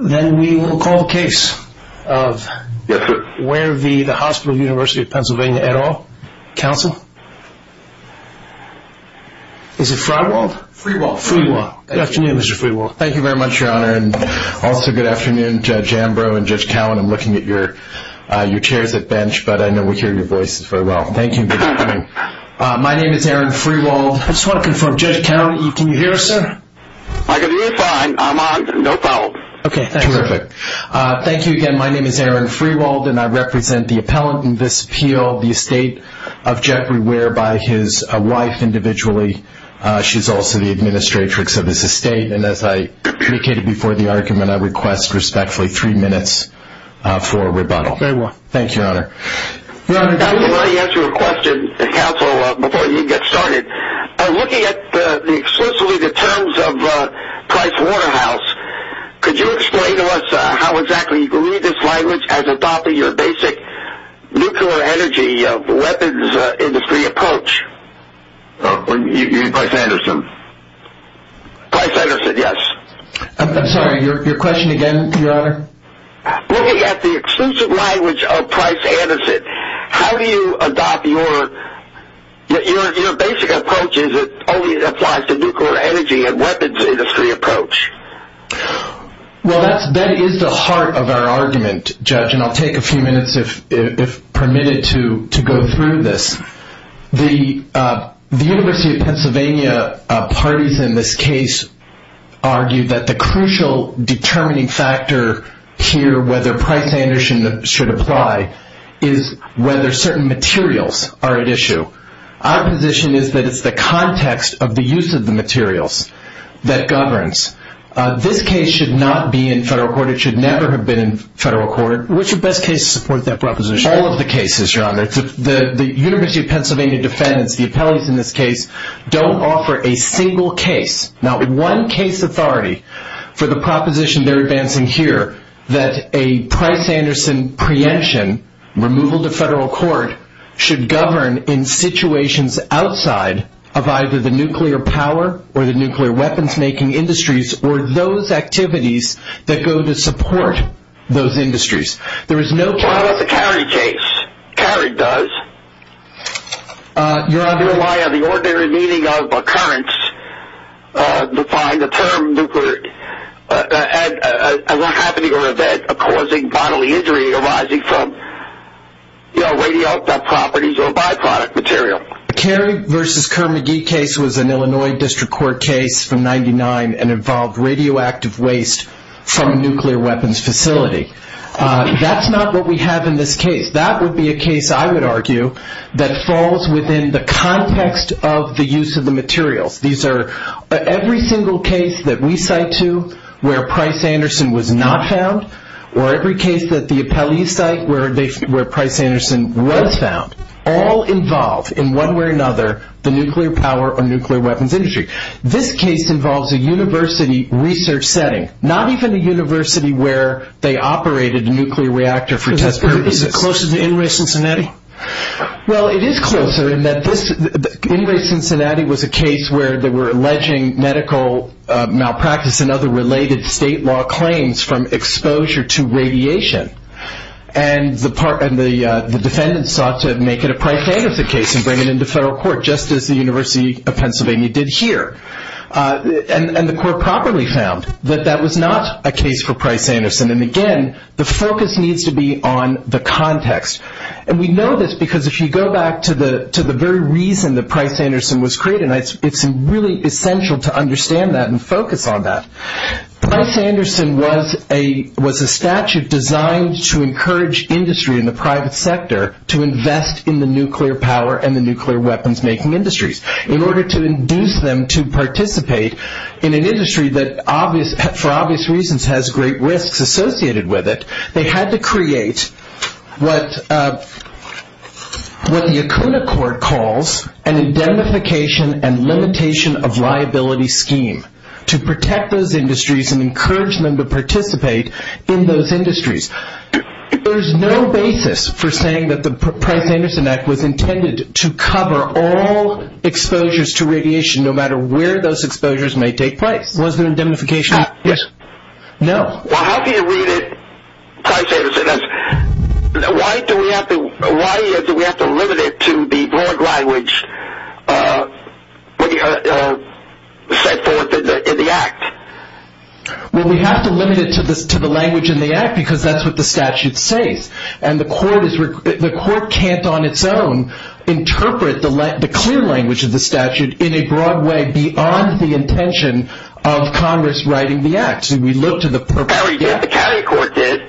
Then we will call the case of H Ware v. Hospital of the University of Pennsylvania et al. Counsel. Is it Freiwald? Freiwald. Freiwald. Good afternoon, Mr. Freiwald. Thank you very much, Your Honor. And also good afternoon, Judge Ambrose and Judge Cowan. I'm looking at your chairs at bench, but I know we hear your voices very well. Thank you for coming. My name is Aaron Freiwald. I just want to confirm, Judge Cowan, can you hear us, sir? I can hear you fine. I'm on. No problem. Terrific. Thank you again. My name is Aaron Freiwald, and I represent the appellant in this appeal, the estate of Jeffrey Ware by his wife individually. She's also the administratrix of this estate. And as I indicated before the argument, I request respectfully three minutes for a rebuttal. Thank you, Your Honor. I want to ask you a question, Counsel, before you get started. Looking at the exclusively the terms of Price-Waterhouse, could you explain to us how exactly you believe this language as adopting your basic nuclear energy weapons industry approach? Price-Anderson. Price-Anderson, yes. I'm sorry, your question again, Your Honor? Looking at the exclusive language of Price-Anderson, how do you adopt your basic approach as it only applies to nuclear energy and weapons industry approach? Well, that is the heart of our argument, Judge, and I'll take a few minutes if permitted to go through this. The University of Pennsylvania parties in this case argue that the crucial determining factor here, whether Price-Anderson should apply, is whether certain materials are at issue. Our position is that it's the context of the use of the materials that governs. This case should not be in federal court. It should never have been in federal court. Which best case supports that proposition? All of the cases, Your Honor. The University of Pennsylvania defendants, the appellees in this case, don't offer a single case. Not one case authority for the proposition they're advancing here that a Price-Anderson preemption, removal to federal court, should govern in situations outside of either the nuclear power or the nuclear weapons-making industries or those activities that go to support those industries. There is no- What about the Carig case? Carig does. Your Honor- They rely on the ordinary meaning of occurrence to find the term nuclear. And what happened to your event of causing bodily injury arising from radioactive properties of a byproduct material? Carig versus Kerr-McGee case was an Illinois District Court case from 1999 and involved radioactive waste from a nuclear weapons facility. That's not what we have in this case. That would be a case, I would argue, that falls within the context of the use of the materials. These are every single case that we cite to where Price-Anderson was not found, or every case that the appellees cite where Price-Anderson was found, all involve, in one way or another, the nuclear power or nuclear weapons industry. This case involves a university research setting, not even a university where they operated a nuclear reactor for test purposes. Is it closer to Inouye, Cincinnati? Well, it is closer in that Inouye, Cincinnati was a case where they were alleging medical malpractice and other related state law claims from exposure to radiation. And the defendant sought to make it a Price-Anderson case and bring it into federal court, just as the University of Pennsylvania did here. And the court properly found that that was not a case for Price-Anderson. And again, the focus needs to be on the context. And we know this because if you go back to the very reason that Price-Anderson was created, it's really essential to understand that and focus on that. Price-Anderson was a statute designed to encourage industry in the private sector to invest in the nuclear power and the nuclear weapons-making industries. In order to induce them to participate in an industry that, for obvious reasons, has great risks associated with it, they had to create what the Acuna Court calls an indemnification and limitation of liability scheme to protect those industries and encourage them to participate in those industries. There's no basis for saying that the Price-Anderson Act was intended to cover all exposures to radiation, no matter where those exposures may take place. Was there indemnification? Yes. No. Well, how do you read it, Price-Anderson? Why do we have to limit it to the broad language set forth in the Act? Well, we have to limit it to the language in the Act because that's what the statute says. And the court can't, on its own, interpret the clear language of the statute in a broad way beyond the intention of Congress writing the Act. Did we look to the purpose? No, we didn't. The county court did.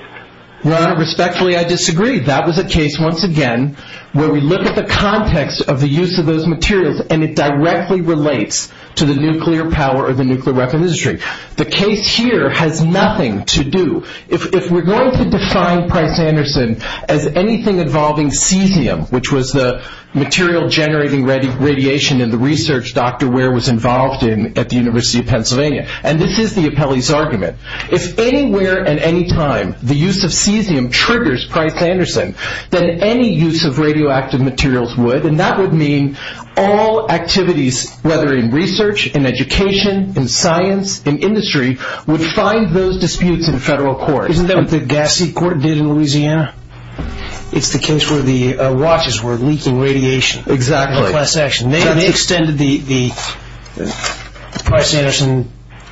Well, respectfully, I disagree. That was a case, once again, where we look at the context of the use of those materials and it directly relates to the nuclear power or the nuclear weapons industry. The case here has nothing to do. If we're going to define Price-Anderson as anything involving cesium, which was the material generating radiation in the research Dr. Ware was involved in at the University of Pennsylvania. And this is the appellee's argument. If anywhere and anytime the use of cesium triggers Price-Anderson, then any use of radioactive materials would. And that would mean all activities, whether in research, in education, in science, in industry, would find those disputes in federal court. Isn't that what the Gassi court did in Louisiana? It's the case where the watches were leaking radiation. Exactly. They extended the Price-Anderson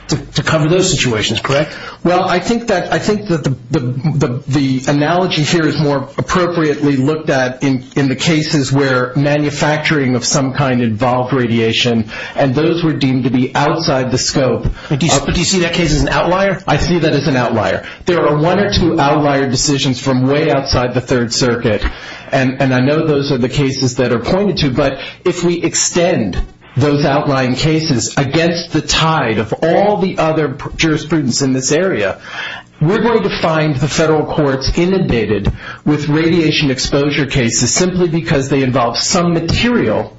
to cover those situations, correct? Well, I think that the analogy here is more appropriately looked at in the cases where manufacturing of some kind involved radiation. And those were deemed to be outside the scope. But do you see that case as an outlier? I see that as an outlier. There are one or two outlier decisions from way outside the Third Circuit. And I know those are the cases that are pointed to. But if we extend those outlying cases against the tide of all the other jurisprudence in this area, we're going to find the federal courts inundated with radiation exposure cases simply because they involve some material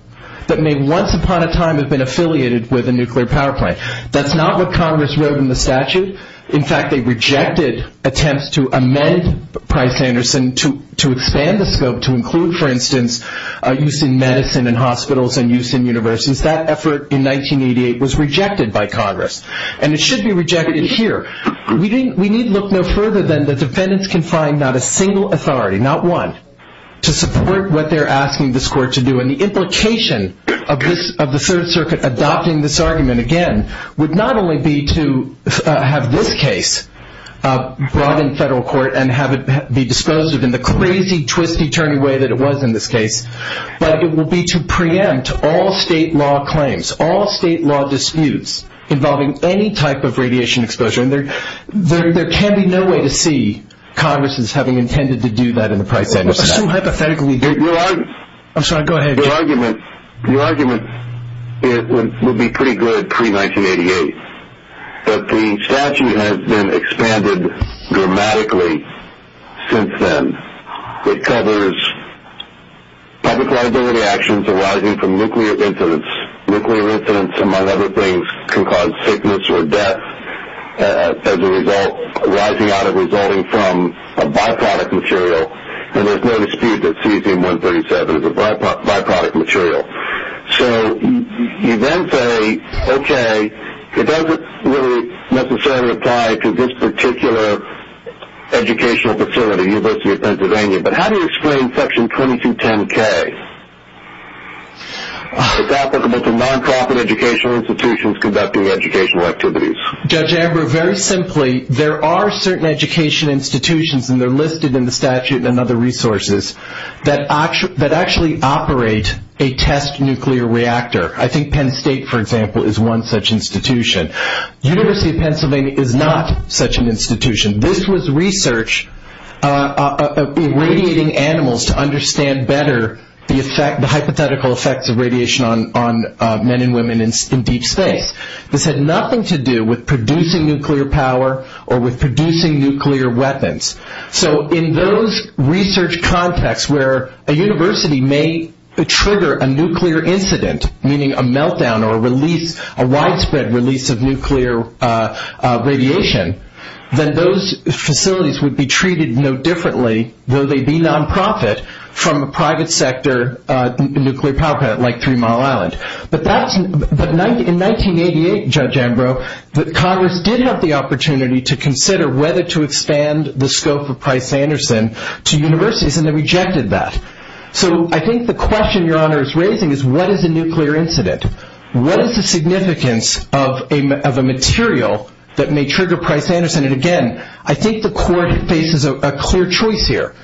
that may once upon a time have been affiliated with a nuclear power plant. That's not what Congress wrote in the statute. In fact, they rejected attempts to amend Price-Anderson to expand the scope to include, for instance, use in medicine and hospitals and use in universities. That effort in 1988 was rejected by Congress. And it should be rejected here. We need look no further than the defendants can find not a single authority, not one, to support what they're asking this court to do. And the implication of the Third Circuit adopting this argument, again, would not only be to have this case brought in federal court and have it be disposed of in the crazy, twisty, turny way that it was in this case. But it will be to preempt all state law claims, all state law disputes involving any type of radiation exposure. And there can be no way to see Congress's having intended to do that in the Price-Anderson Act. But so hypothetically, the argument will be pretty good pre-1988. But the statute has been expanded dramatically since then. It covers public liability actions arising from nuclear incidents. Nuclear incidents, among other things, can cause sickness or death as a result arising out of resulting from a byproduct material. And there's no dispute that cesium-137 is a byproduct material. So you then say, okay, it doesn't really necessarily apply to this particular educational facility, University of Pennsylvania. But how do you explain Section 2210-K? It's applicable to non-profit educational institutions conducting educational activities. Judge Amber, very simply, there are certain education institutions, and they're listed in the statute and other resources, that actually operate a test nuclear reactor. I think Penn State, for example, is one such institution. University of Pennsylvania is not such an institution. This was research of irradiating animals to understand better the hypothetical effects of radiation on men and women in deep space. This had nothing to do with producing nuclear power or with producing nuclear weapons. So in those research contexts where a university may trigger a nuclear incident, meaning a meltdown or a widespread release of nuclear radiation, then those facilities would be treated no differently, though they be non-profit, from a private sector nuclear power plant like Three Mile Island. But in 1988, Judge Ambrose, Congress did have the opportunity to consider whether to expand the scope of Price-Anderson to universities, and they rejected that. So I think the question Your Honor is raising is, what is a nuclear incident? What is the significance of a material that may trigger Price-Anderson? And again, I think the Court faces a clear choice here.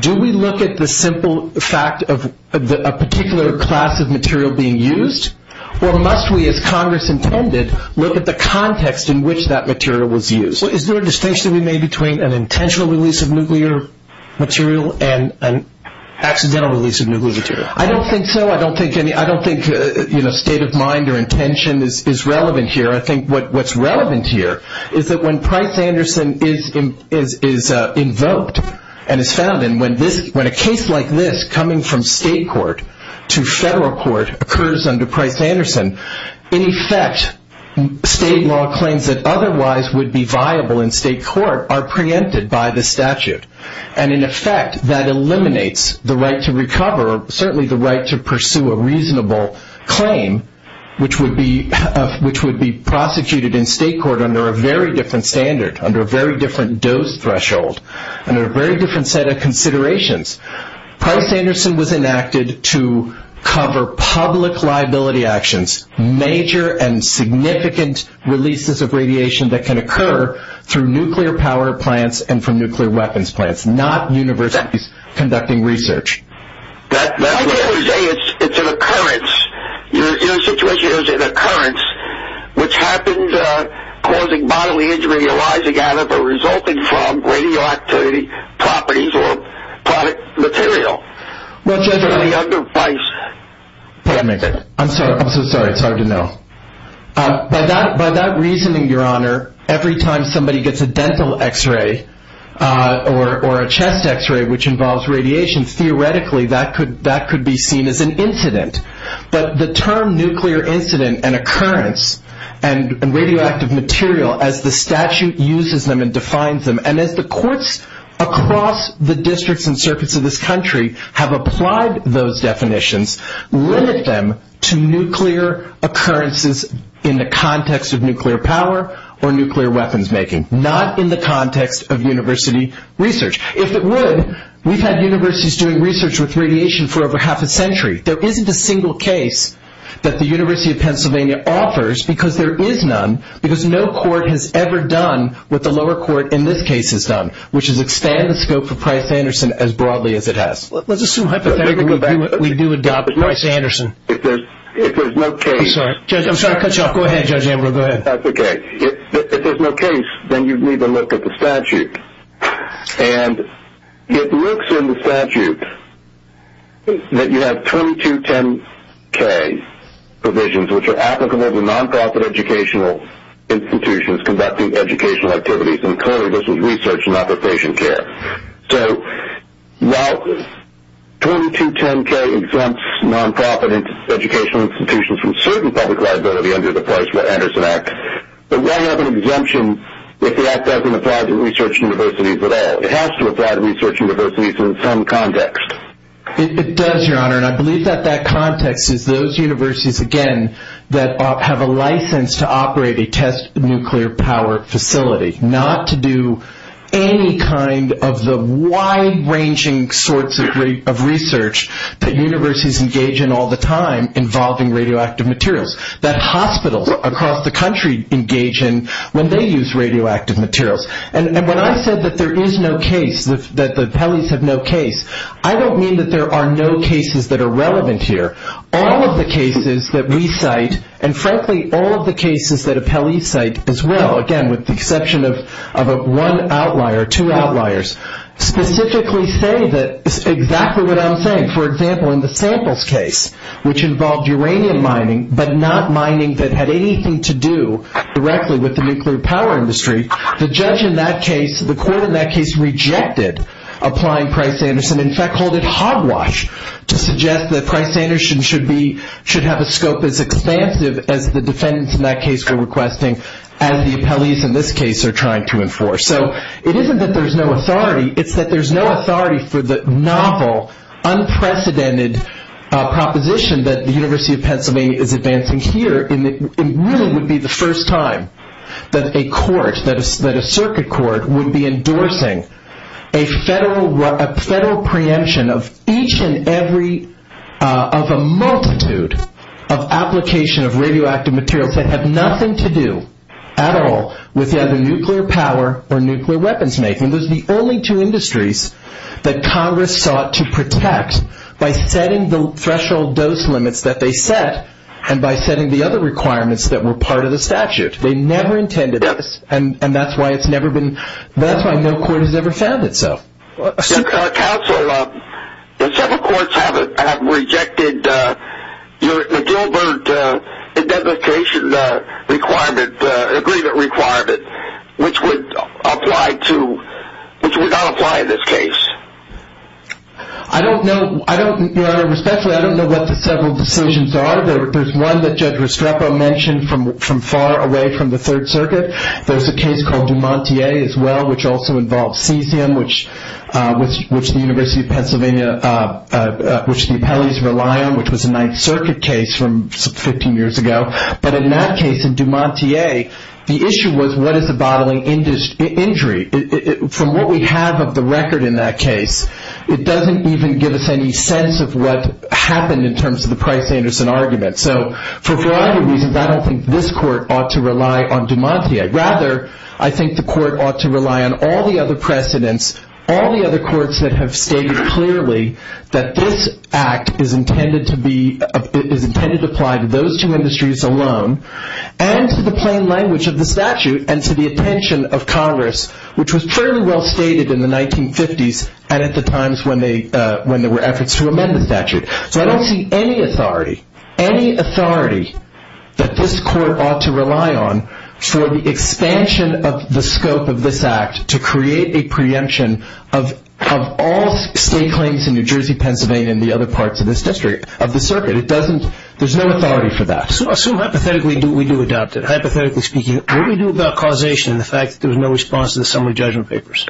Do we look at the simple fact of a particular class of material being used? Or must we, as Congress intended, look at the context in which that material was used? Is there a distinction to be made between an intentional release of nuclear material and an accidental release of nuclear material? I don't think so. I don't think state of mind or intention is relevant here. I think what's relevant here is that when Price-Anderson is invoked and is found, and when a case like this coming from state court to federal court occurs under Price-Anderson, in effect, state law claims that otherwise would be viable in state court are preempted by the statute. And in effect, that eliminates the right to recover, or certainly the right to pursue a reasonable claim, which would be prosecuted in state court under a very different standard, under a very different dose threshold, under a very different set of considerations. Price-Anderson was enacted to cover public liability actions, major and significant releases of radiation that can occur through nuclear power plants and from nuclear weapons plants, not universities conducting research. That's what I was saying. It's an occurrence. You're in a situation, it was an occurrence, which happened causing bodily injury arising from radioactive properties or product material. Judge, I'm so sorry. It's hard to know. By that reasoning, your honor, every time somebody gets a dental x-ray or a chest x-ray, which involves radiation, theoretically, that could be seen as an incident. But the term nuclear incident and occurrence and radioactive material, as the statute uses them and defines them, and as the courts across the districts and circuits of this country have applied those definitions, limit them to nuclear occurrences in the context of nuclear power or nuclear weapons making, not in the context of university research. If it would, we've had universities doing research with radiation for over half a century. There isn't a single case that the University of Pennsylvania offers, because there is none, because no court has ever done what the lower court in this case has done, which is expand the scope of Price-Anderson as broadly as it has. Let's assume hypothetically we do adopt Price-Anderson. If there's no case... I'm sorry. I'm sorry to cut you off. Go ahead, Judge Ambrose. Go ahead. If there's no case, then you'd need to look at the statute. And it looks in the statute that you have 2210K provisions, which are applicable to non-profit educational institutions conducting educational activities, and clearly this is research and not the patient care. So while 2210K exempts non-profit educational institutions from certain public liability under the Price-Anderson Act, but why have an exemption if the Act doesn't apply to research universities at all? It has to apply to research universities in some context. It does, Your Honor, and I believe that that context is those universities, again, that have a license to operate a test nuclear power facility, not to do any kind of the wide-ranging sorts of research that universities engage in all the time involving radioactive materials that hospitals across the country engage in when they use radioactive materials. And when I said that there is no case, that the appellees have no case, I don't mean that there are no cases that are relevant here. All of the cases that we cite, and frankly, all of the cases that appellees cite as well, again, with the exception of one outlier, two outliers, specifically say that it's exactly what I'm saying. For example, in the samples case, which involved uranium mining but not mining that had anything to do directly with the nuclear power industry, the judge in that case, the court in that case rejected applying Price-Anderson, in fact, called it hogwash to suggest that Price-Anderson should be, should have a scope as expansive as the defendants in that case were requesting as the appellees in this case are trying to enforce. So it isn't that there's no authority. It's that there's no authority for the novel, unprecedented proposition that the first time that a court, that a circuit court would be endorsing a federal preemption of each and every, of a multitude of application of radioactive materials that have nothing to do at all with either nuclear power or nuclear weapons making. Those are the only two industries that Congress sought to protect by setting the threshold dose limits that they set and by setting the other requirements that were part of the statute. They never intended this and that's why it's never been, that's why no court has ever found itself. Counsel, several courts have rejected the Gilbert indemnification requirement, agreement requirement, which would apply to, which would not apply in this case. I don't know, I don't, Your Honor, respectfully, I don't know what the several decisions are. There's one that Judge Restrepo mentioned from far away from the Third Circuit. There's a case called DuMontier as well, which also involves cesium, which the University of Pennsylvania, which the appellees rely on, which was a Ninth Circuit case from 15 years ago. But in that case, in DuMontier, the issue was what is the bottling injury? From what we have of the record in that case, it doesn't even give us any sense of what happened in terms of the Price-Anderson argument. So for a variety of reasons, I don't think this court ought to rely on DuMontier. Rather, I think the court ought to rely on all the other precedents, all the other courts that have stated clearly that this act is intended to be, is intended to apply to those two industries alone and to the plain language of the statute and to the attention of Congress which was fairly well stated in the 1950s and at the times when there were efforts to amend the statute. So I don't see any authority, any authority that this court ought to rely on for the expansion of the scope of this act to create a preemption of all state claims in New Jersey, Pennsylvania and the other parts of this district of the circuit. It doesn't, there's no authority for that. So hypothetically, do we do adopt it? Hypothetically speaking, what do we do about causation and the fact that there's no response to the summary judgment papers?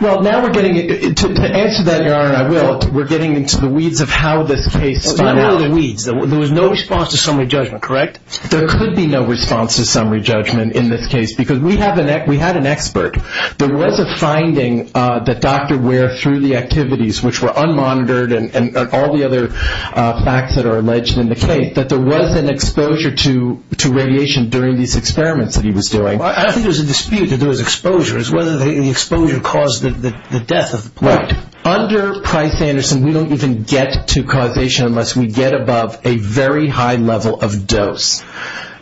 Well, now we're getting, to answer that, Your Honor, and I will, we're getting into the weeds of how this case spun out. What are the weeds? There was no response to summary judgment, correct? There could be no response to summary judgment in this case because we have an, we had an expert. There was a finding that Dr. Ware, through the activities which were unmonitored and all the other facts that are alleged in the case, that there was an exposure to radiation during these experiments that he was doing. I think there's a dispute that there was exposure. It's whether the exposure caused the death of the plate. Right. Under Price-Anderson, we don't even get to causation unless we get above a very high level of dose.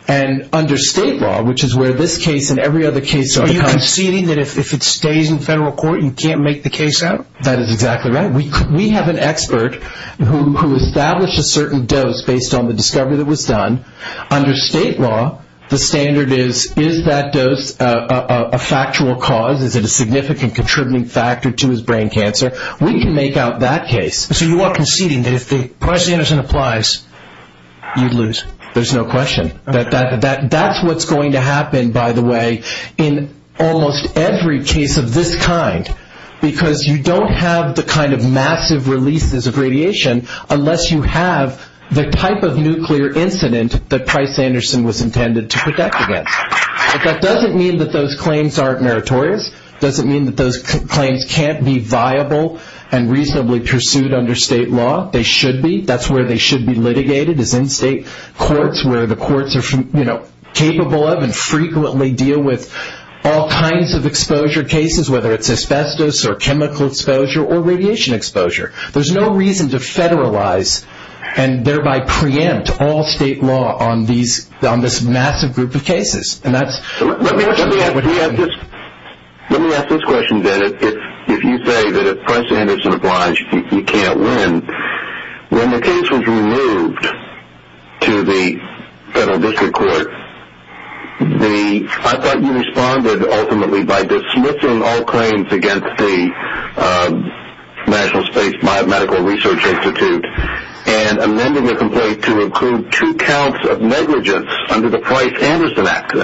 And under state law, which is where this case and every other case are conceding that if it stays in federal court, you can't make the case out? That is exactly right. We have an expert who established a certain dose based on the discovery that was done. Under state law, the standard is, is that dose a factual cause? Is it a significant contributing factor to his brain cancer? We can make out that case. So you are conceding that if the Price-Anderson applies, you'd lose? There's no question. That's what's going to happen, by the way, in almost every case of this kind because you don't have the kind of massive releases of radiation unless you have the type of nuclear incident that Price-Anderson was intended to protect against. That doesn't mean that those claims aren't meritorious. It doesn't mean that those claims can't be viable and reasonably pursued under state law. They should be. That's where they should be litigated is in state courts where the courts are capable of and frequently deal with all kinds of exposure cases, whether it's asbestos or chemical exposure or radiation exposure. There's no reason to federalize and thereby preempt all state law on this massive group of cases. Let me ask this question, Dan. If you say that if Price-Anderson applies, you can't win, when the case was removed to the federal district court, I thought you responded ultimately by dismissing all claims against the National Space Medical Research Institute and amending the complaint to include two counts of negligence under the Price-Anderson Act.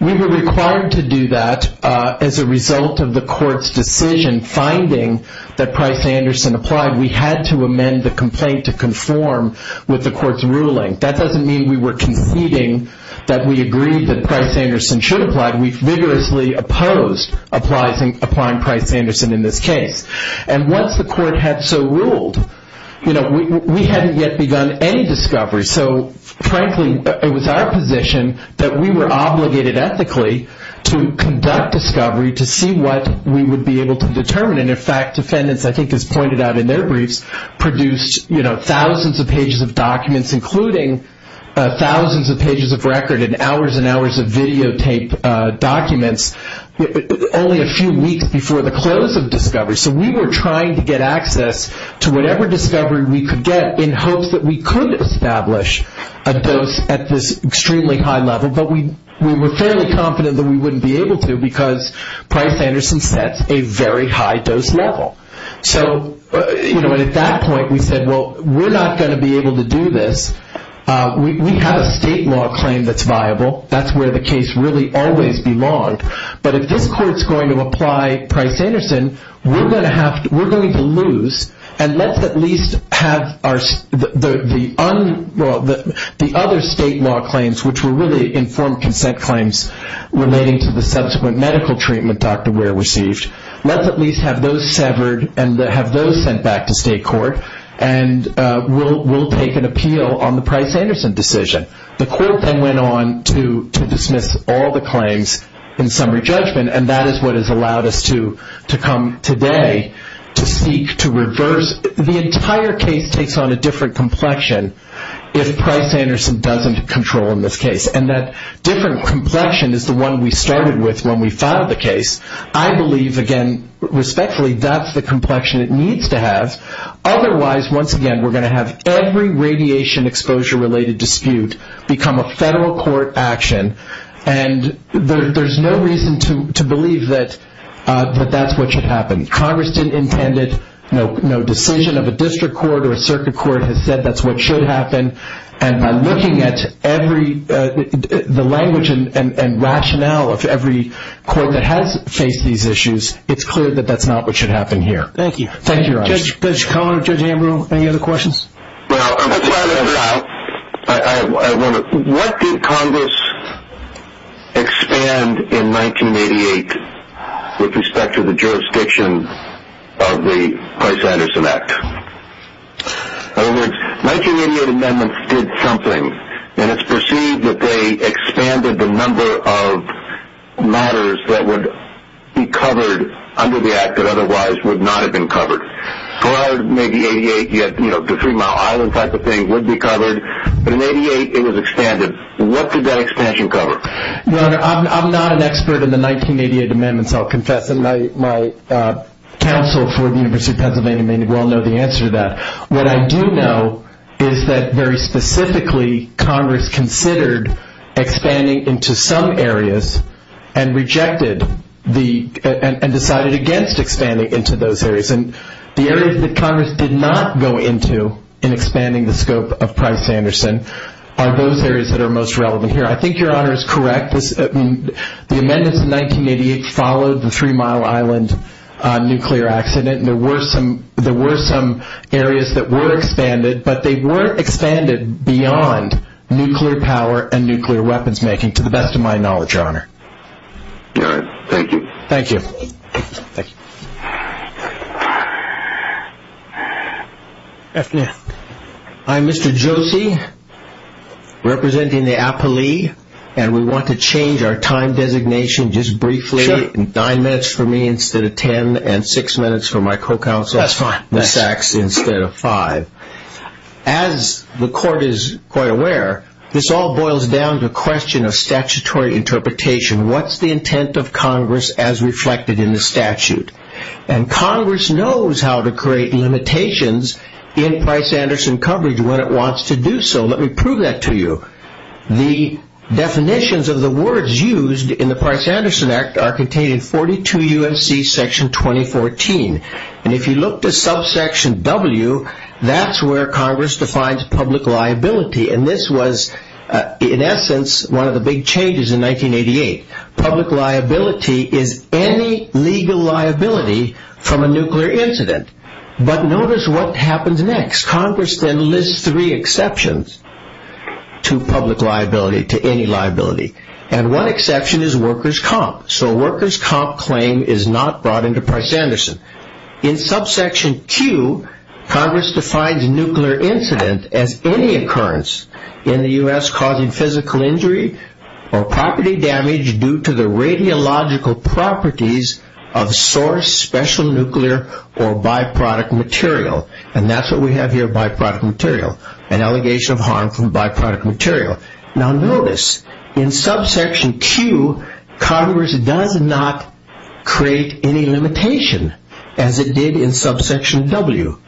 We were required to do that as a result of the court's decision finding that Price-Anderson applied. We had to amend the complaint to conform with the court's ruling. That doesn't mean we were conceding that we agreed that Price-Anderson should apply. We vigorously opposed applying Price-Anderson in this case. Once the court had so ruled, we hadn't yet begun any discovery. Frankly, it was our position that we were obligated ethically to conduct discovery to see what we would be able to determine. In fact, defendants, I think as pointed out in their briefs, produced thousands of pages of documents, including thousands of pages of record and hours and hours of videotaped documents only a few weeks before the close of discovery. We were trying to get access to whatever discovery we could get in hopes that we could establish a dose at this extremely high level, but we were fairly confident that we wouldn't be able to because Price-Anderson sets a very high dose level. So at that point, we said, well, we're not going to be able to do this. We have a state law claim that's viable. That's where the case really always belonged. But if this court's going to apply Price-Anderson, we're going to lose and let's at least have the other state law claims, which were really informed consent claims relating to the subsequent medical treatment Dr. Ware received. Let's at least have those severed and have those sent back to state court, and we'll take an appeal on the Price-Anderson decision. The court then went on to dismiss all the claims in summary judgment, and that is what has allowed us to come today to seek to reverse. The entire case takes on a different complexion if Price-Anderson doesn't control in this case, and that different complexion is the one we started with when we founded the case. I believe, again, respectfully, that's the complexion it needs to have. Otherwise, once again, we're going to have every radiation exposure-related dispute become a federal court action, and there's no reason to believe that that's what should happen. Congress didn't intend it. No decision of a district court or a circuit court has said that's what should happen, and by looking at the language and rationale of every court that has faced these issues, it's clear that that's not what should happen here. Thank you. Thank you, Your Honor. Judge Cohen, Judge Ambrose, any other questions? What did Congress expand in 1988 with respect to the jurisdiction of the Price-Anderson Act? In other words, 1988 amendments did something, and it's perceived that they expanded the number of matters that would be covered under the Act that otherwise would not have been covered. Prior to maybe 88, the Three Mile Island type of thing would be covered, but in 88, it was expanded. What did that expansion cover? Your Honor, I'm not an expert in the 1988 amendments, I'll confess, and my counsel for the University of Pennsylvania may well know the answer to that. What I do know is that very specifically, Congress considered expanding into some areas and rejected and decided against expanding into those areas, and the areas that Congress did not go into in expanding the scope of Price-Anderson are those areas that are most relevant here. I think Your Honor is correct. The amendments in 1988 followed the Three Mile Island nuclear accident. There were some areas that were expanded, but they weren't expanded beyond nuclear power and nuclear weapons making, to the best of my knowledge, Your Honor. All right. Thank you. Thank you. Afternoon. I'm Mr. Josie, representing the appellee, and we want to change our time designation just briefly, nine minutes for me instead of ten, and six minutes for my co-counsel. That's fine. Ms. Sachs instead of five. As the Court is quite aware, this all boils down to a question of statutory interpretation. What's the intent of Congress as reflected in the statute? Congress knows how to create limitations in Price-Anderson coverage when it wants to do so. Let me prove that to you. The definitions of the words used in the Price-Anderson Act are contained in 42 U.S.C. Section 2014, and if you look to subsection W, that's where Congress defines public liability, and this was, in essence, one of the big changes in 1988. Public liability is any legal liability from a nuclear incident, but notice what happens next. Congress then lists three exceptions to public liability, to any liability, and one exception is workers' comp, so workers' comp claim is not brought into Price-Anderson. In subsection Q, Congress defines nuclear incident as any occurrence in the U.S. causing physical injury or property damage due to the radiological properties of source, special nuclear, or byproduct material, and that's what we have here, byproduct material, an allegation of harm from byproduct material. Now notice, in subsection Q, Congress does not create any limitation as it did in subsection W.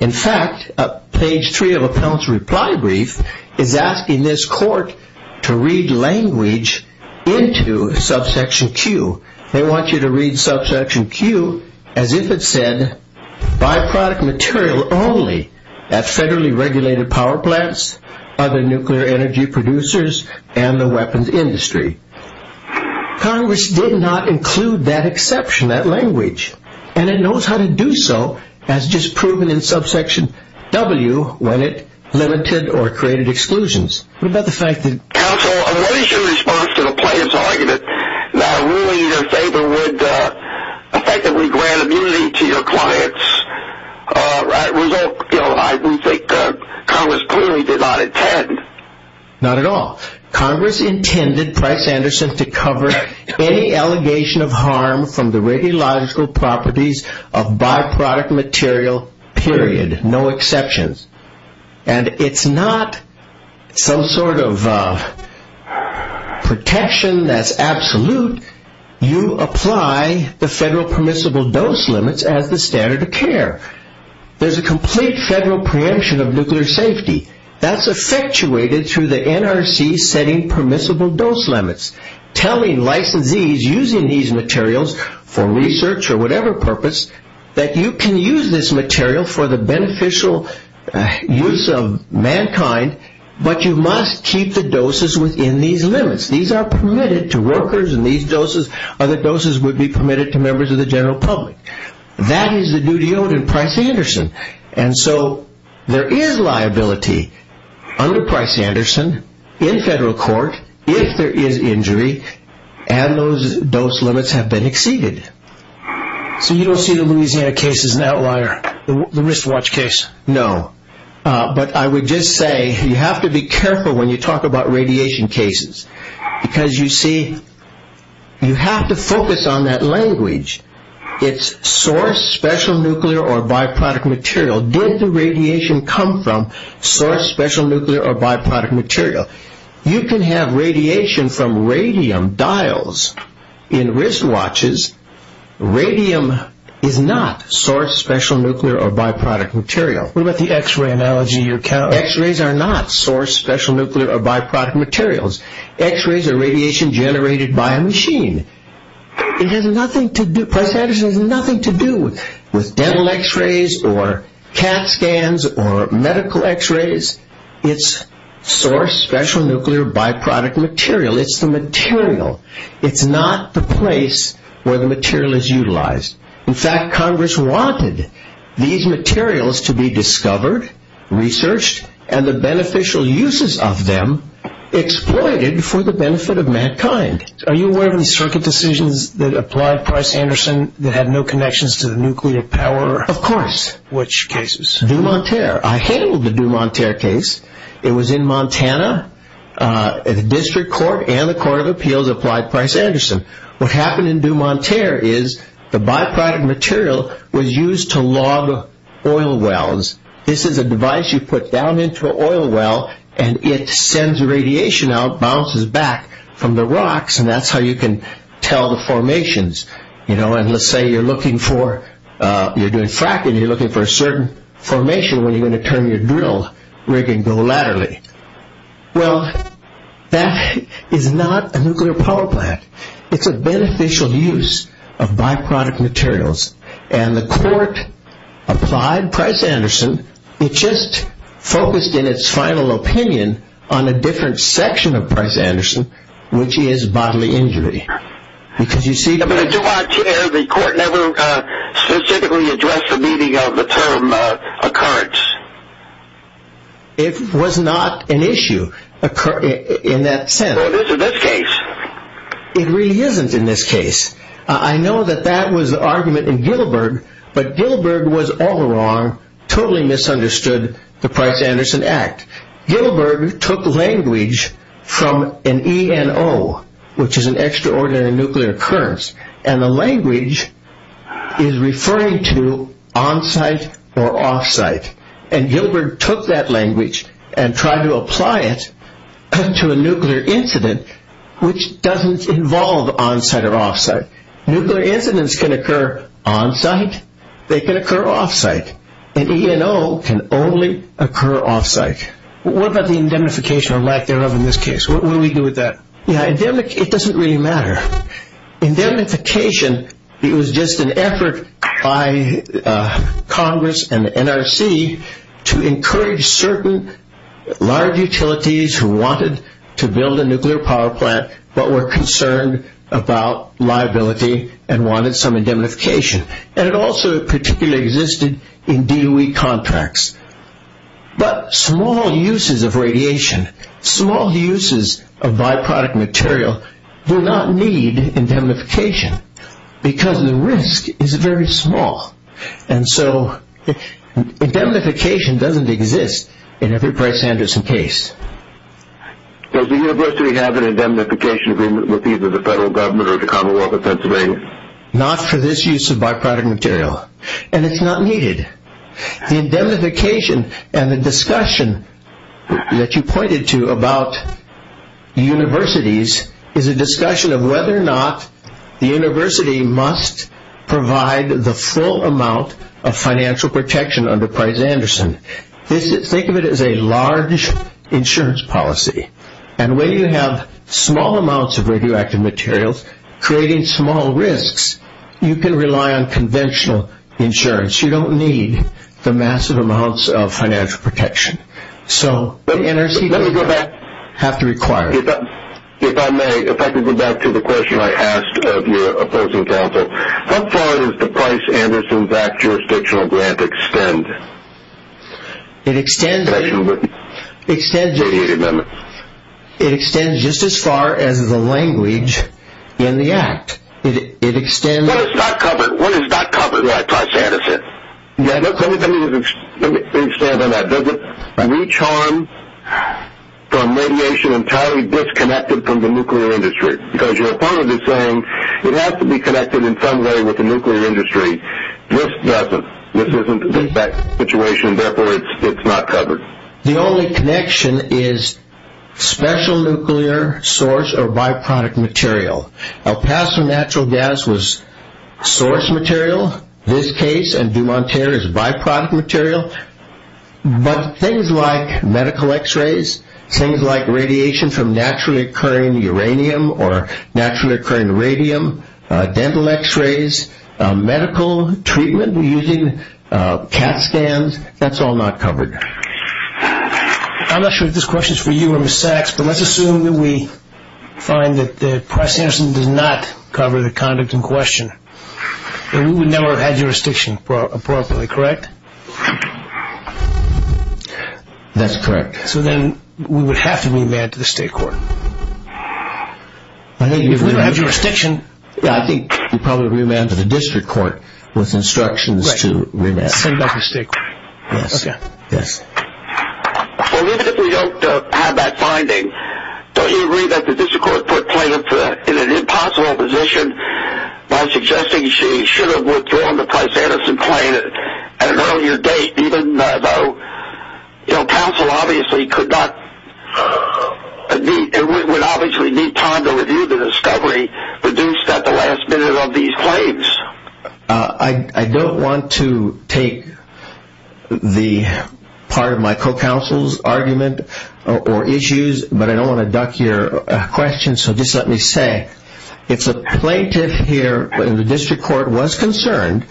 In fact, page three of Appellant's reply brief is asking this court to read language into subsection Q. They want you to read subsection Q as if it said, byproduct material only at federally regulated power plants, other nuclear energy producers, and the weapons industry. Congress did not include that exception, that language, and it knows how to do so as just proven in subsection W when it limited or created exclusions. What about the fact that- Counsel, what is your response to the plaintiff's argument that ruling in your favor would effectively grant immunity to your clients? I think Congress clearly did not intend. Not at all. Congress intended Price-Anderson to cover any allegation of harm from the radiological properties of byproduct material, period. No exceptions. And it's not some sort of protection that's absolute. You apply the federal permissible dose limits as the standard of care. There's a complete federal preemption of nuclear safety. That's effectuated through the NRC setting permissible dose limits, telling licensees using these materials for research or whatever purpose that you can use this material for the beneficial use of mankind, but you must keep the doses within these limits. These are permitted to workers and these doses, other doses would be permitted to members of the general public. That is the duty owed in Price-Anderson. And so there is liability under Price-Anderson in federal court if there is injury. And those dose limits have been exceeded. So you don't see the Louisiana case as an outlier, the wristwatch case? No. But I would just say you have to be careful when you talk about radiation cases. Because you see, you have to focus on that language. It's source, special nuclear or byproduct material. Did the radiation come from source, special nuclear or byproduct material? You can have radiation from radium dials in wristwatches. Radium is not source, special nuclear or byproduct material. What about the x-ray analogy you're counting? X-rays are not source, special nuclear or byproduct materials. X-rays are radiation generated by a machine. It has nothing to do, Price-Anderson has nothing to do with dental x-rays or cat scans or medical x-rays. It's source, special nuclear or byproduct material. It's the material. It's not the place where the material is utilized. In fact, Congress wanted these materials to be discovered, researched, and the beneficial uses of them exploited for the benefit of mankind. Are you aware of the circuit decisions that applied Price-Anderson that had no connections to the nuclear power? Of course. Which cases? Dumont-Terre. I handled the Dumont-Terre case. It was in Montana. The District Court and the Court of Appeals applied Price-Anderson. What happened in Dumont-Terre is the byproduct material was used to log oil wells. This is a device you put down into an oil well and it sends radiation out, bounces back from the rocks, and that's how you can tell the formations. You know, and let's say you're looking for, you're doing fracking, you're looking for a certain formation when you're going to turn your drill rig and go laterally. Well, that is not a nuclear power plant. It's a beneficial use of byproduct materials. And the court applied Price-Anderson. It just focused in its final opinion on a different section of Price-Anderson, which is bodily injury. Because you see, the court never specifically addressed the meaning of the term occurrence. It was not an issue in that sense. Well, it is in this case. It really isn't in this case. I know that that was the argument in Gillibird, but Gillibird was all wrong, totally misunderstood the Price-Anderson Act. Gillibird took language from an ENO, which is an Extraordinary Nuclear Occurrence, and the language is referring to on-site or off-site. And Gillibird took that language and tried to apply it to a nuclear incident, which doesn't involve on-site or off-site. Nuclear incidents can occur on-site. They can occur off-site. An ENO can only occur off-site. What about the indemnification or lack thereof in this case? What do we do with that? It doesn't really matter. Indemnification, it was just an effort by Congress and the NRC to encourage certain large utilities who wanted to build a nuclear power plant but were concerned about liability and wanted some indemnification. And it also particularly existed in DOE contracts. But small uses of radiation, small uses of by-product material do not need indemnification because the risk is very small. And so indemnification doesn't exist in every Price-Anderson case. Does the university have an indemnification agreement with either the federal government or the Commonwealth of Pennsylvania? Not for this use of by-product material. And it's not needed. The indemnification and the discussion that you pointed to about universities is a discussion of whether or not the university must provide the full amount of financial protection under Price-Anderson. Think of it as a large insurance policy. And when you have small amounts of radioactive materials creating small risks, you can rely on conventional insurance. You don't need the massive amounts of financial protection. So the NRC doesn't have to require it. If I may, if I could go back to the question I asked of your opposing counsel. How far does the Price-Anderson Act jurisdictional grant extend? It extends just as far as the language in the Act. It extends... What is not covered? What is not covered by Price-Anderson? Yeah, let me expand on that. Does it reach harm from radiation entirely disconnected from the nuclear industry? Because your opponent is saying it has to be connected in some way with the nuclear industry. This doesn't. This isn't that situation. Therefore, it's not covered. The only connection is special nuclear source or by-product material. El Paso natural gas was source material. This case and Dumont-Terre is by-product material. But things like medical x-rays, things like radiation from naturally occurring uranium or naturally occurring radium, dental x-rays, medical treatment using CAT scans, that's all not covered. I'm not sure if this question is for you or Ms. Sachs, let's assume that we find that the Price-Anderson does not cover the conduct in question, then we would never have had jurisdiction appropriately, correct? That's correct. So then we would have to remand to the state court. I think if we don't have jurisdiction... Yeah, I think we probably remand to the district court with instructions to remand. Send back to the state court. Yes, yes. Well, even if we don't have that finding, don't you agree that the district court put Plaintiff in an impossible position by suggesting she should have withdrawn the Price-Anderson claim at an earlier date, even though counsel obviously could not... It would obviously need time to review the discovery produced at the last minute of these claims. I don't want to take the part of my co-counsel's argument or issues, but I don't want to duck your question, so just let me say, if the Plaintiff here in the district court was concerned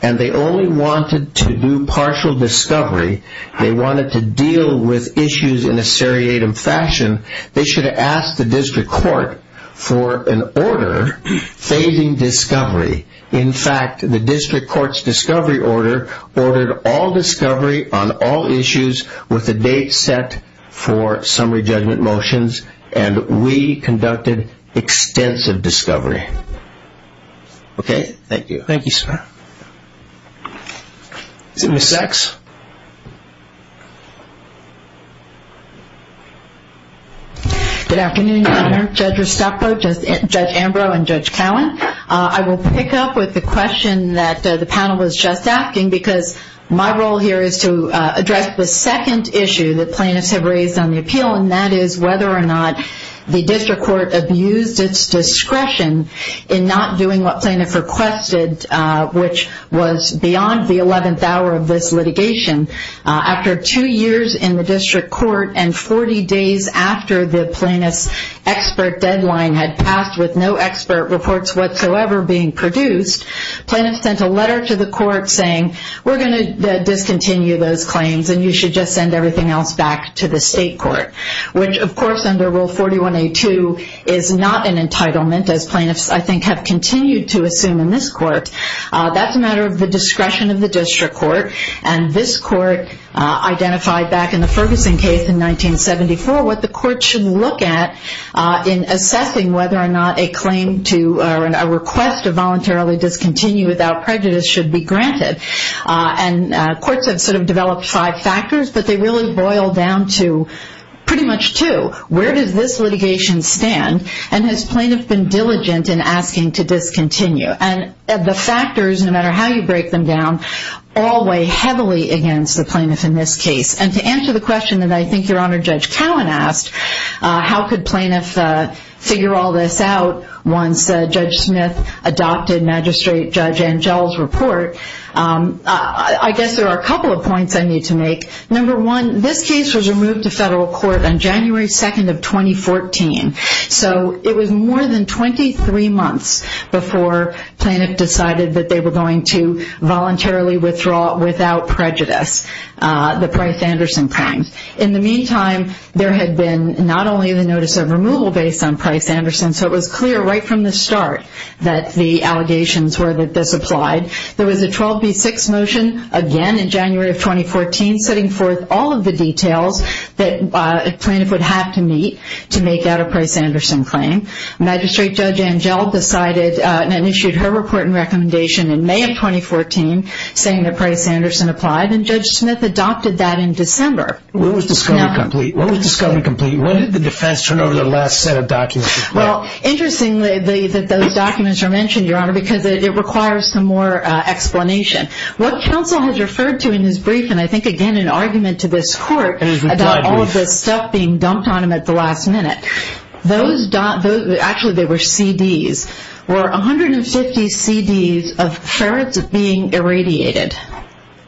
and they only wanted to do partial discovery, they wanted to deal with issues in a seriatim fashion, they should have asked the district court for an order failing discovery. In fact, the district court's discovery order ordered all discovery on all issues with a date set for summary judgment motions, and we conducted extensive discovery. Okay? Thank you. Thank you, sir. Is it Ms. Sachs? Good afternoon, Judge Restapo, Judge Ambrose, and Judge Cowan. I will pick up with the question that the panel was just asking, because my role here is to address the second issue that plaintiffs have raised on the appeal, and that is whether or not the district court abused its discretion in not doing what plaintiffs requested, which was beyond the 11th hour of this litigation. After two years in the district court and 40 days after the plaintiff's expert deadline had passed with no expert reports whatsoever being produced, plaintiffs sent a letter to the court saying, we're going to discontinue those claims and you should just send everything else back to the state court, which, of course, under Rule 41A2 is not an entitlement, as plaintiffs, I think, have continued to assume in this court. That's a matter of the discretion of the district court, and this court identified back in the Ferguson case in 1974 what the court should look at in assessing whether or not a claim to or a request to voluntarily discontinue without prejudice should be granted. And courts have sort of developed five factors, but they really boil down to pretty much two. Where does this litigation stand? And has plaintiff been diligent in asking to discontinue? And the factors, no matter how you break them down, all weigh heavily against the plaintiff in this case. And to answer the question that I think Your Honor, Judge Cowan asked, how could plaintiff figure all this out once Judge Smith adopted Magistrate Judge Angell's report, I guess there are a couple of points I need to make. Number one, this case was removed to federal court on January 2nd of 2014. So it was more than 23 months before plaintiff decided that they were going to voluntarily withdraw without prejudice the Price-Anderson claims. In the meantime, there had been not only the notice of removal based on Price-Anderson, so it was clear right from the start that the allegations were that this applied. There was a 12B6 motion again in January of 2014 setting forth all of the details that a plaintiff would have to meet to make out a Price-Anderson claim. Magistrate Judge Angell decided and issued her report and recommendation in May of 2014 saying that Price-Anderson applied and Judge Smith adopted that in December. When was discovery complete? When did the defense turn over the last set of documents? Well, interestingly, those documents are mentioned, Your Honor, because it requires some more explanation. What counsel has referred to in his brief, and I think, again, an argument to this court about all of this stuff being dumped on him at the last minute, those documents, actually they were CDs, were 150 CDs of ferrets being irradiated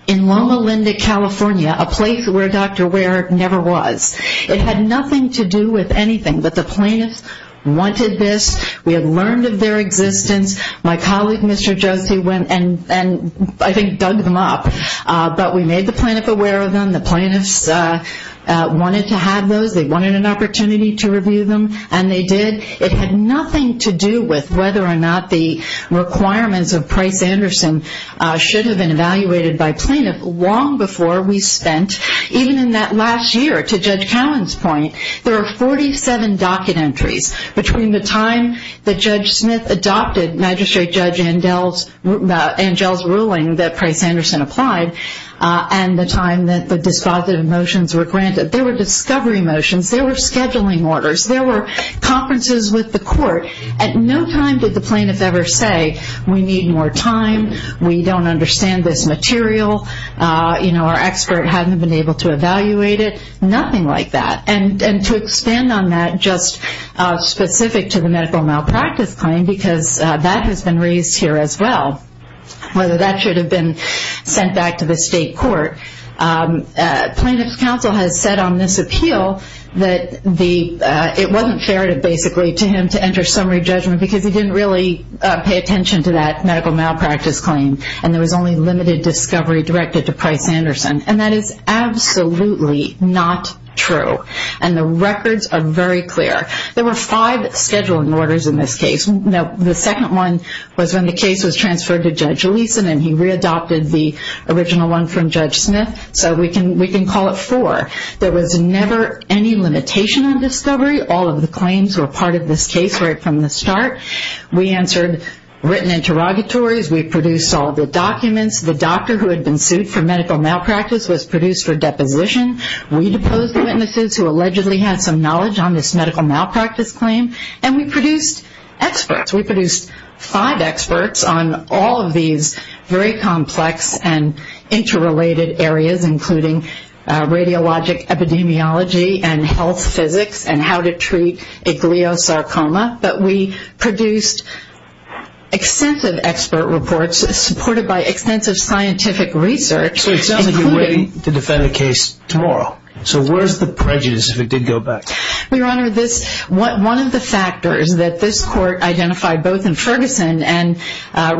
in Loma Linda, California, a place where Dr. Ware never was. It had nothing to do with anything, but the plaintiffs wanted this. We had learned of their existence. My colleague, Mr. Josie, went and I think dug them up, but we made the plaintiff aware of them. The plaintiffs wanted to have those. They wanted an opportunity to review them, and they did. It had nothing to do with whether or not the requirements of Price-Anderson should have been evaluated by plaintiff long before we spent. Even in that last year, to Judge Cowan's point, there are 47 docket entries between the time that Judge Smith adopted Magistrate Judge Angell's ruling that Price-Anderson applied and the time that the dispositive motions were granted. There were discovery motions, there were scheduling orders, there were conferences with the court. At no time did the plaintiff ever say, we need more time, we don't understand this material, our expert hadn't been able to evaluate it, nothing like that. To expand on that, just specific to the medical malpractice claim, because that has been raised here as well, whether that should have been sent back to the state court, plaintiff's counsel has said on this appeal that it wasn't fair, basically, to him to enter summary judgment because he didn't really pay attention to that medical malpractice claim and there was only limited discovery directed to Price-Anderson. And that is absolutely not true. And the records are very clear. There were five scheduling orders in this case. The second one was when the case was transferred to Judge Leeson and he re-adopted the original one from Judge Smith. We can call it four. There was never any limitation on discovery. All of the claims were part of this case right from the start. We answered written interrogatories, we produced all the documents. The doctor who had been sued for medical malpractice was produced for deposition. We deposed the witnesses who allegedly had some knowledge on this medical malpractice claim and we produced experts. We produced five experts on all of these very complex and interrelated areas including radiologic epidemiology and health physics and how to treat a gliosarcoma. But we produced extensive expert reports supported by extensive scientific research. So it sounds like you're waiting to defend the case tomorrow. So where's the prejudice if it did go back? Your Honor, one of the factors that this court identified both in Ferguson and more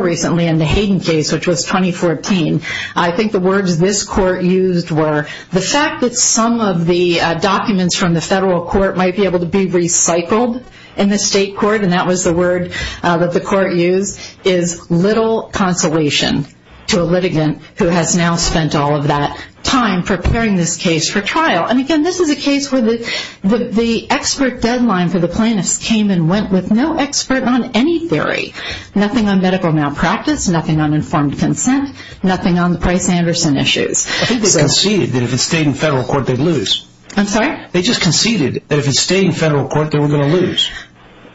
recently in the Hayden case which was 2014. I think the words this court used were the fact that some of the documents from the federal court might be able to be recycled in the state court and that was the word that the court used is little consolation to a litigant who has now spent all of that time preparing this case for trial. And again this is a case where the expert deadline for the plaintiffs came and went with no expert on any theory. Nothing on medical malpractice, nothing on informed consent, nothing on the Price-Anderson issues. I think they conceded that if it stayed in federal court they'd lose. I'm sorry? They just conceded that if it stayed in federal court they were going to lose.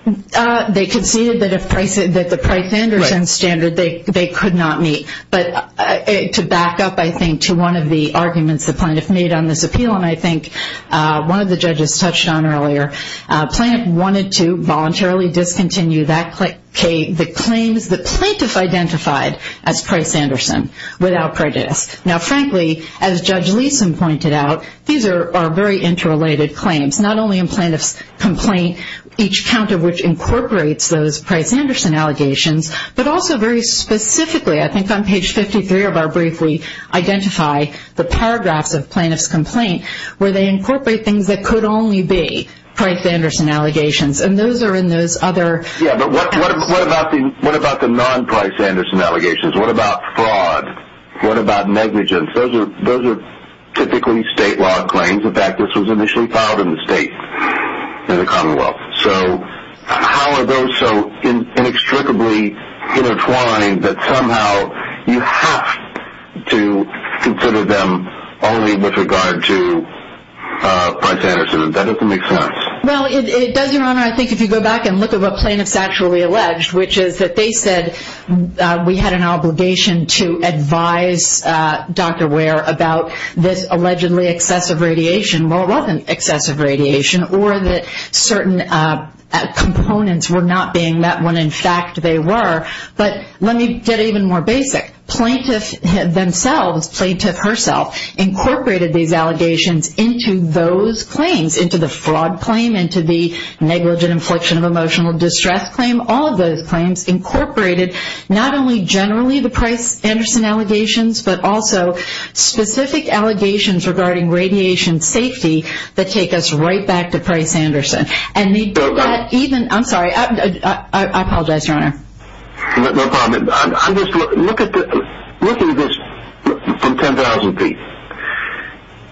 They conceded that the Price-Anderson standard they could not meet. But to back up I think to one of the arguments the plaintiff made on this appeal and I think one of the judges touched on earlier, plaintiff wanted to voluntarily discontinue the claims the plaintiff identified as Price-Anderson without prejudice. Now frankly, as Judge Leeson pointed out, these are very interrelated claims. Not only in plaintiff's complaint, each count of which incorporates those Price-Anderson allegations, but also very specifically I think on page 53 of our brief we identify the paragraphs of plaintiff's complaint where they incorporate things that could only be Price-Anderson allegations. And those are in those other... Yeah, but what about the non-Price-Anderson allegations? What about fraud? What about negligence? Those are typically state law claims. In fact, this was initially filed in the state, in the commonwealth. So how are those so inextricably intertwined that somehow you have to consider them only with regard to Price-Anderson? That doesn't make sense. Well, it does, Your Honor. I think if you go back and look at what plaintiffs actually alleged, which is that they said we had an obligation to advise Dr. Ware about this allegedly excessive radiation. Well, it wasn't excessive radiation or that certain components were not being met when in fact they were. But let me get even more basic. Plaintiff themselves, plaintiff herself, incorporated these allegations into those claims, into the fraud claim, into the negligent infliction of emotional distress claim. All of those claims incorporated not only generally the Price-Anderson allegations, but also specific allegations regarding radiation safety that take us right back to Price-Anderson. And they did that even... I'm sorry, I apologize, Your Honor. No problem. I'm just looking at this from 10,000 feet.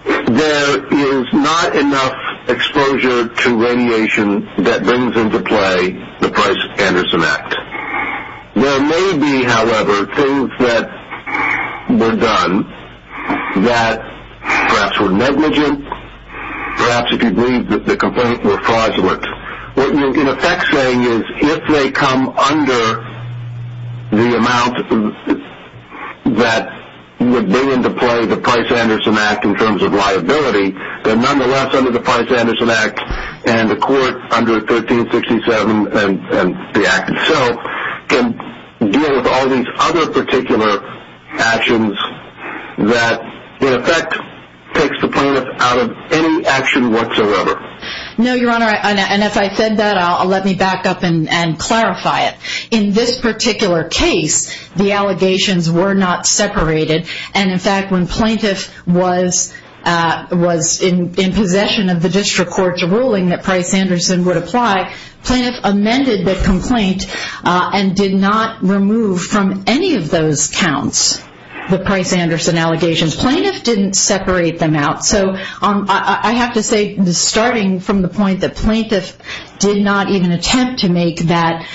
There is not enough exposure to radiation that brings into play the Price-Anderson Act. There may be, however, things that were done that perhaps were negligent, perhaps if you believe that the complaint were fraudulent. What you're in effect saying is if they come under the amount that would bring into play the Price-Anderson Act in terms of liability, they're nonetheless under the Price-Anderson Act and the court under 1367 and the act itself can deal with all these other particular actions that in effect takes the plaintiff out of any action whatsoever. No, Your Honor, and if I said that, I'll let me back up and clarify it. In this particular case, the allegations were not separated. And in fact, when plaintiff was in possession of the district court's ruling that Price-Anderson would apply, plaintiff amended the complaint and did not remove from any of those counts the Price-Anderson allegations. Plaintiff didn't separate them out. So I have to say starting from the point that plaintiff did not even attempt to make that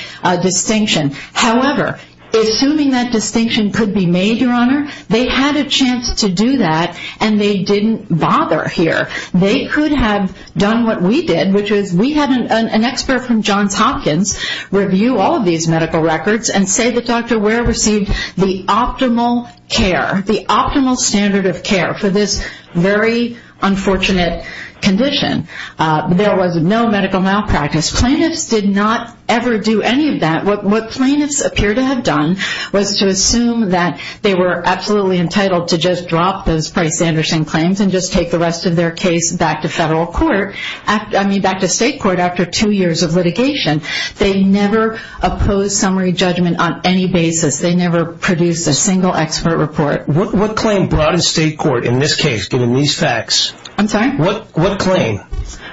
distinction. However, assuming that distinction could be made, Your Honor, they had a chance to do that and they didn't bother here. They could have done what we did, which is we had an expert from Johns Hopkins review all of these medical records and say that Dr. Ware received the optimal care, the optimal standard of care for this very unfortunate condition. There was no medical malpractice. Plaintiffs did not ever do any of that. What plaintiffs appear to have done was to assume that they were absolutely entitled to just drop those Price-Anderson claims and just take the rest of their case back to federal court. I mean, back to state court after two years of litigation. They never opposed summary judgment on any basis. They never produced a single expert report. What claim brought in state court in this case, given these facts? I'm sorry? What claim,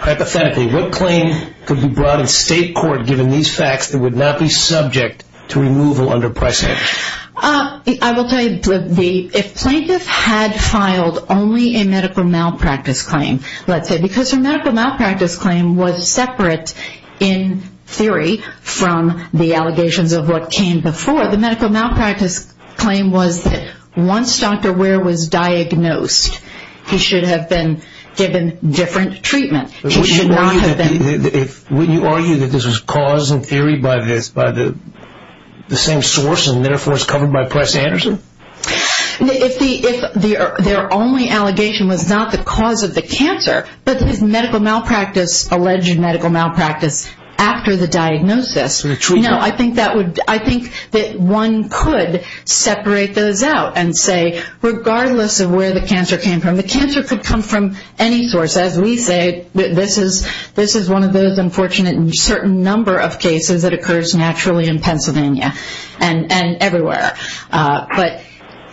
hypothetically, what claim could be brought in state court given these facts that would not be subject to removal under Price-Anderson? I will tell you, if plaintiff had filed only a medical malpractice claim, let's say, because her medical malpractice claim was separate in theory from the allegations of what came before, the medical malpractice claim was that once Dr. Ware was diagnosed, he should have been given different treatment. He should not have been... Would you argue that this was caused in theory by the same source and therefore it's covered by Price-Anderson? Their only allegation was not the cause of the cancer, but his medical malpractice, alleged medical malpractice, after the diagnosis. I think that one could separate those out and say, regardless of where the cancer came from, the cancer could come from any source. As we say, this is one of those unfortunate certain number of cases that occurs naturally in Pennsylvania and everywhere. But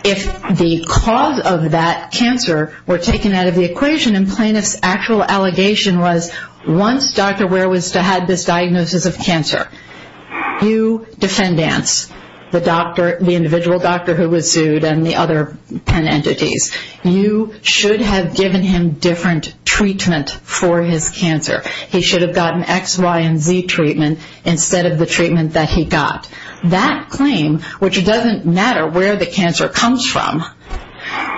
if the cause of that cancer were taken out of the equation once Dr. Ware had this diagnosis of cancer, you defendants, the individual doctor who was sued and the other 10 entities, you should have given him different treatment for his cancer. He should have gotten X, Y, and Z treatment instead of the treatment that he got. That claim, which doesn't matter where the cancer comes from,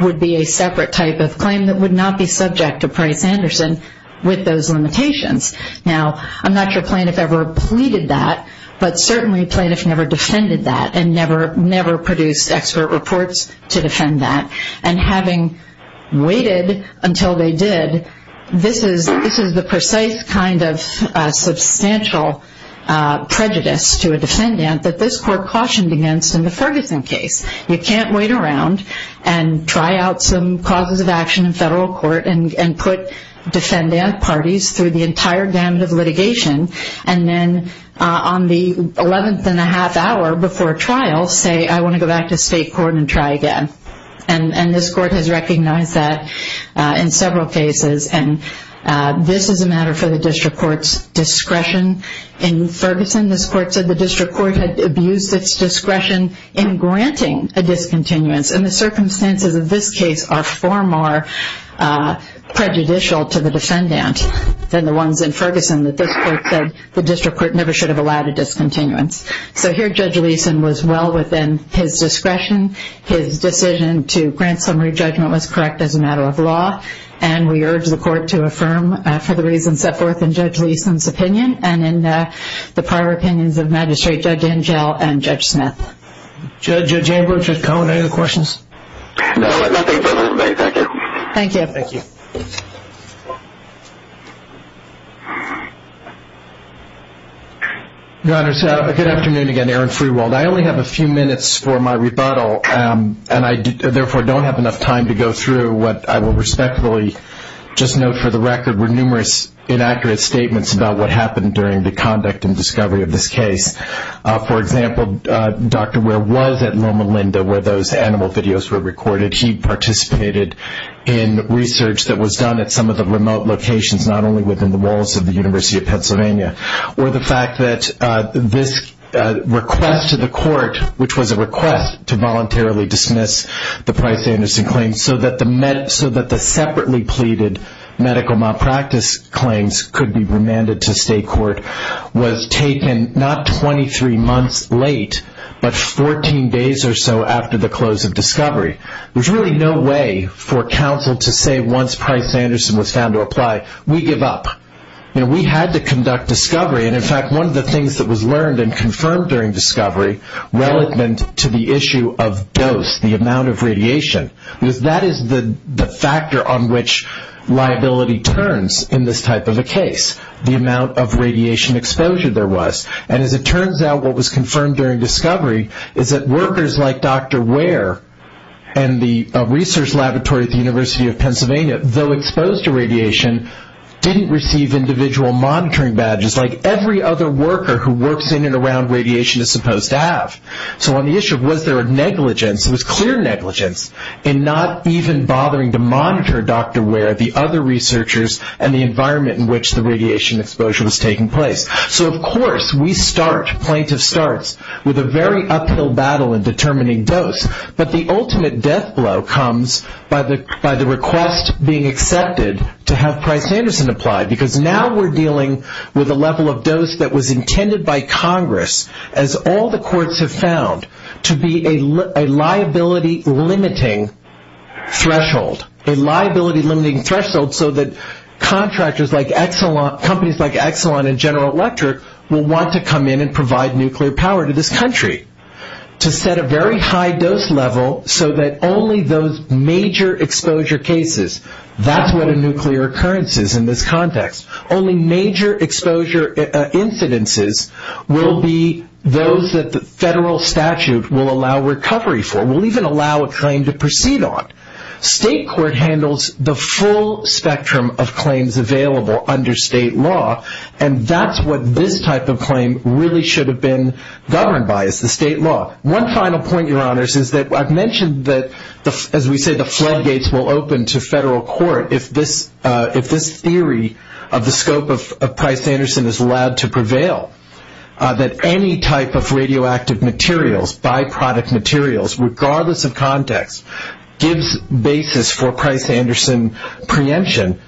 would be a separate type of claim that would not be subject to Price-Anderson with those limitations. Now, I'm not sure plaintiff ever pleaded that, but certainly plaintiff never defended that and never produced expert reports to defend that. And having waited until they did, this is the precise kind of substantial prejudice to a defendant that this court cautioned against in the Ferguson case. You can't wait around and try out some causes of action in federal court and put defendant parties through the entire gamut of litigation and then on the 11th and a half hour before trial, say, I want to go back to state court and try again. And this court has recognized that in several cases. And this is a matter for the district court's discretion. In Ferguson, this court said the district court had abused its discretion in granting a discontinuance. And the circumstances of this case are far more prejudicial to the defendant. Than the ones in Ferguson, that this court said the district court never should have allowed a discontinuance. So here, Judge Leeson was well within his discretion. His decision to grant summary judgment was correct as a matter of law. And we urge the court to affirm for the reasons set forth in Judge Leeson's opinion and in the prior opinions of Magistrate Judge Angel and Judge Smith. Judge Chamberlain, Judge Cohen, any other questions? No, nothing further to make, thank you. Thank you. Thank you. Your Honor, good afternoon again, Aaron Freewold. I only have a few minutes for my rebuttal. And I therefore don't have enough time to go through what I will respectfully just note for the record were numerous inaccurate statements about what happened during the conduct and discovery of this case. For example, Dr. Ware was at Loma Linda where those animal videos were recorded. He participated in research that was done at some of the remote locations, not only within the walls of the University of Pennsylvania. Or the fact that this request to the court, which was a request to voluntarily dismiss the Price-Anderson claim so that the separately pleaded medical malpractice claims could be remanded to state court, was taken not 23 months late, but 14 days or so after the close of discovery. There's really no way for counsel to say once Price-Anderson was found to apply, we give up. We had to conduct discovery. And in fact, one of the things that was learned and confirmed during discovery relevant to the issue of dose, the amount of radiation, because that is the factor on which liability turns in this type of a case, the amount of radiation exposure there was. And as it turns out, is that workers like Dr. Ware and the research laboratory at the University of Pennsylvania, though exposed to radiation, didn't receive individual monitoring badges like every other worker who works in and around radiation is supposed to have. So on the issue of was there a negligence, it was clear negligence in not even bothering to monitor Dr. Ware, the other researchers, and the environment in which the radiation exposure was taking place. So of course we start, plaintiff starts, with a very uphill battle in determining dose. But the ultimate death blow comes by the request being accepted to have Price-Anderson applied. Because now we're dealing with a level of dose that was intended by Congress, as all the courts have found, to be a liability-limiting threshold. A liability-limiting threshold so that contractors like Exelon, companies like Exelon and General Electric will want to come in and provide nuclear power to this country. To set a very high dose level so that only those major exposure cases, that's what a nuclear occurrence is in this context, only major exposure incidences will be those that the federal statute will allow recovery for, will even allow a claim to proceed on. State court handles the full spectrum of claims available under state law and that's what this type of claim really should have been governed by, is the state law. One final point, your honors, is that I've mentioned that, as we say, the floodgates will open to federal court if this theory of the scope of Price-Anderson is allowed to prevail. That any type of radioactive materials, by-product materials, regardless of context, gives basis for Price-Anderson preemption.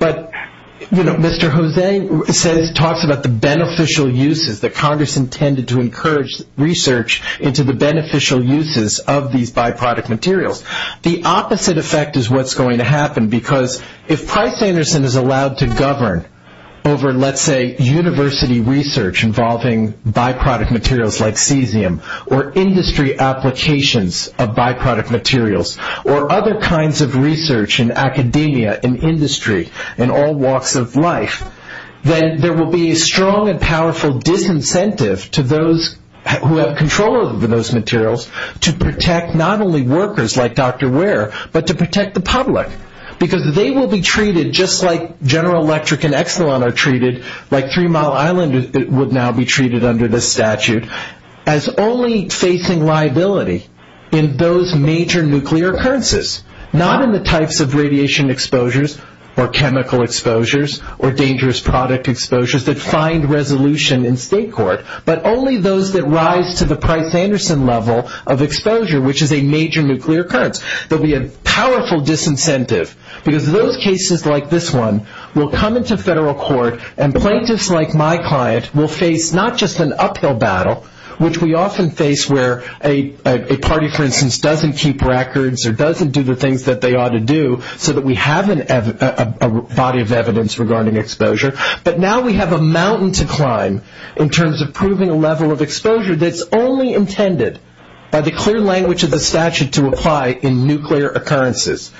But Mr. Jose talks about the beneficial uses that Congress intended to encourage research into the beneficial uses of these by-product materials. The opposite effect is what's going to happen because if Price-Anderson is allowed to govern over, let's say, university research involving by-product materials like cesium or industry applications of by-product materials or other kinds of research in academia, in industry, in all walks of life, then there will be a strong and powerful disincentive to those who have control over those materials to protect not only workers like Dr. Ware but to protect the public because they will be treated just like General Electric and Exelon are treated, like Three Mile Island would now be treated under this statute, as only facing liability in those major nuclear occurrences, not in the types of radiation exposures or chemical exposures or dangerous product exposures that find resolution in state court but only those that rise to the Price-Anderson level of exposure, which is a major nuclear occurrence. There'll be a powerful disincentive because those cases like this one will come into federal court and plaintiffs like my client will face not just an uphill battle, which we often face where a party, for instance, doesn't keep records or doesn't do the things that they ought to do so that we have a body of evidence regarding exposure, but now we have a mountain to climb in terms of proving a level of exposure that's only intended by the clear language of the statute to apply in nuclear occurrences.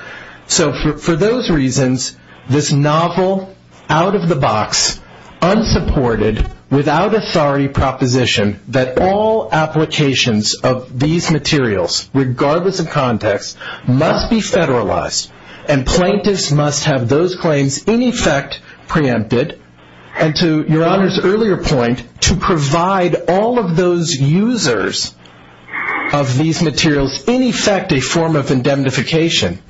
So for those reasons, this novel out-of-the-box, unsupported, without authority proposition that all applications of these materials, regardless of context, must be federalized and plaintiffs must have those claims in effect preempted. And to Your Honor's earlier point, to provide all of those users of these materials, in effect, a form of indemnification,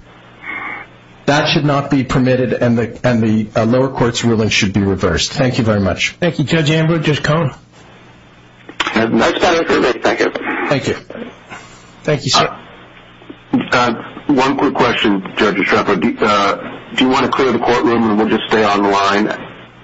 that should not be permitted and the lower court's ruling should be reversed. Thank you very much. Thank you, Judge Amber. Judge Cohn. Thank you. Thank you, sir. One quick question, Judge Estrepo. Do you want to clear the courtroom and we'll just stay on the line?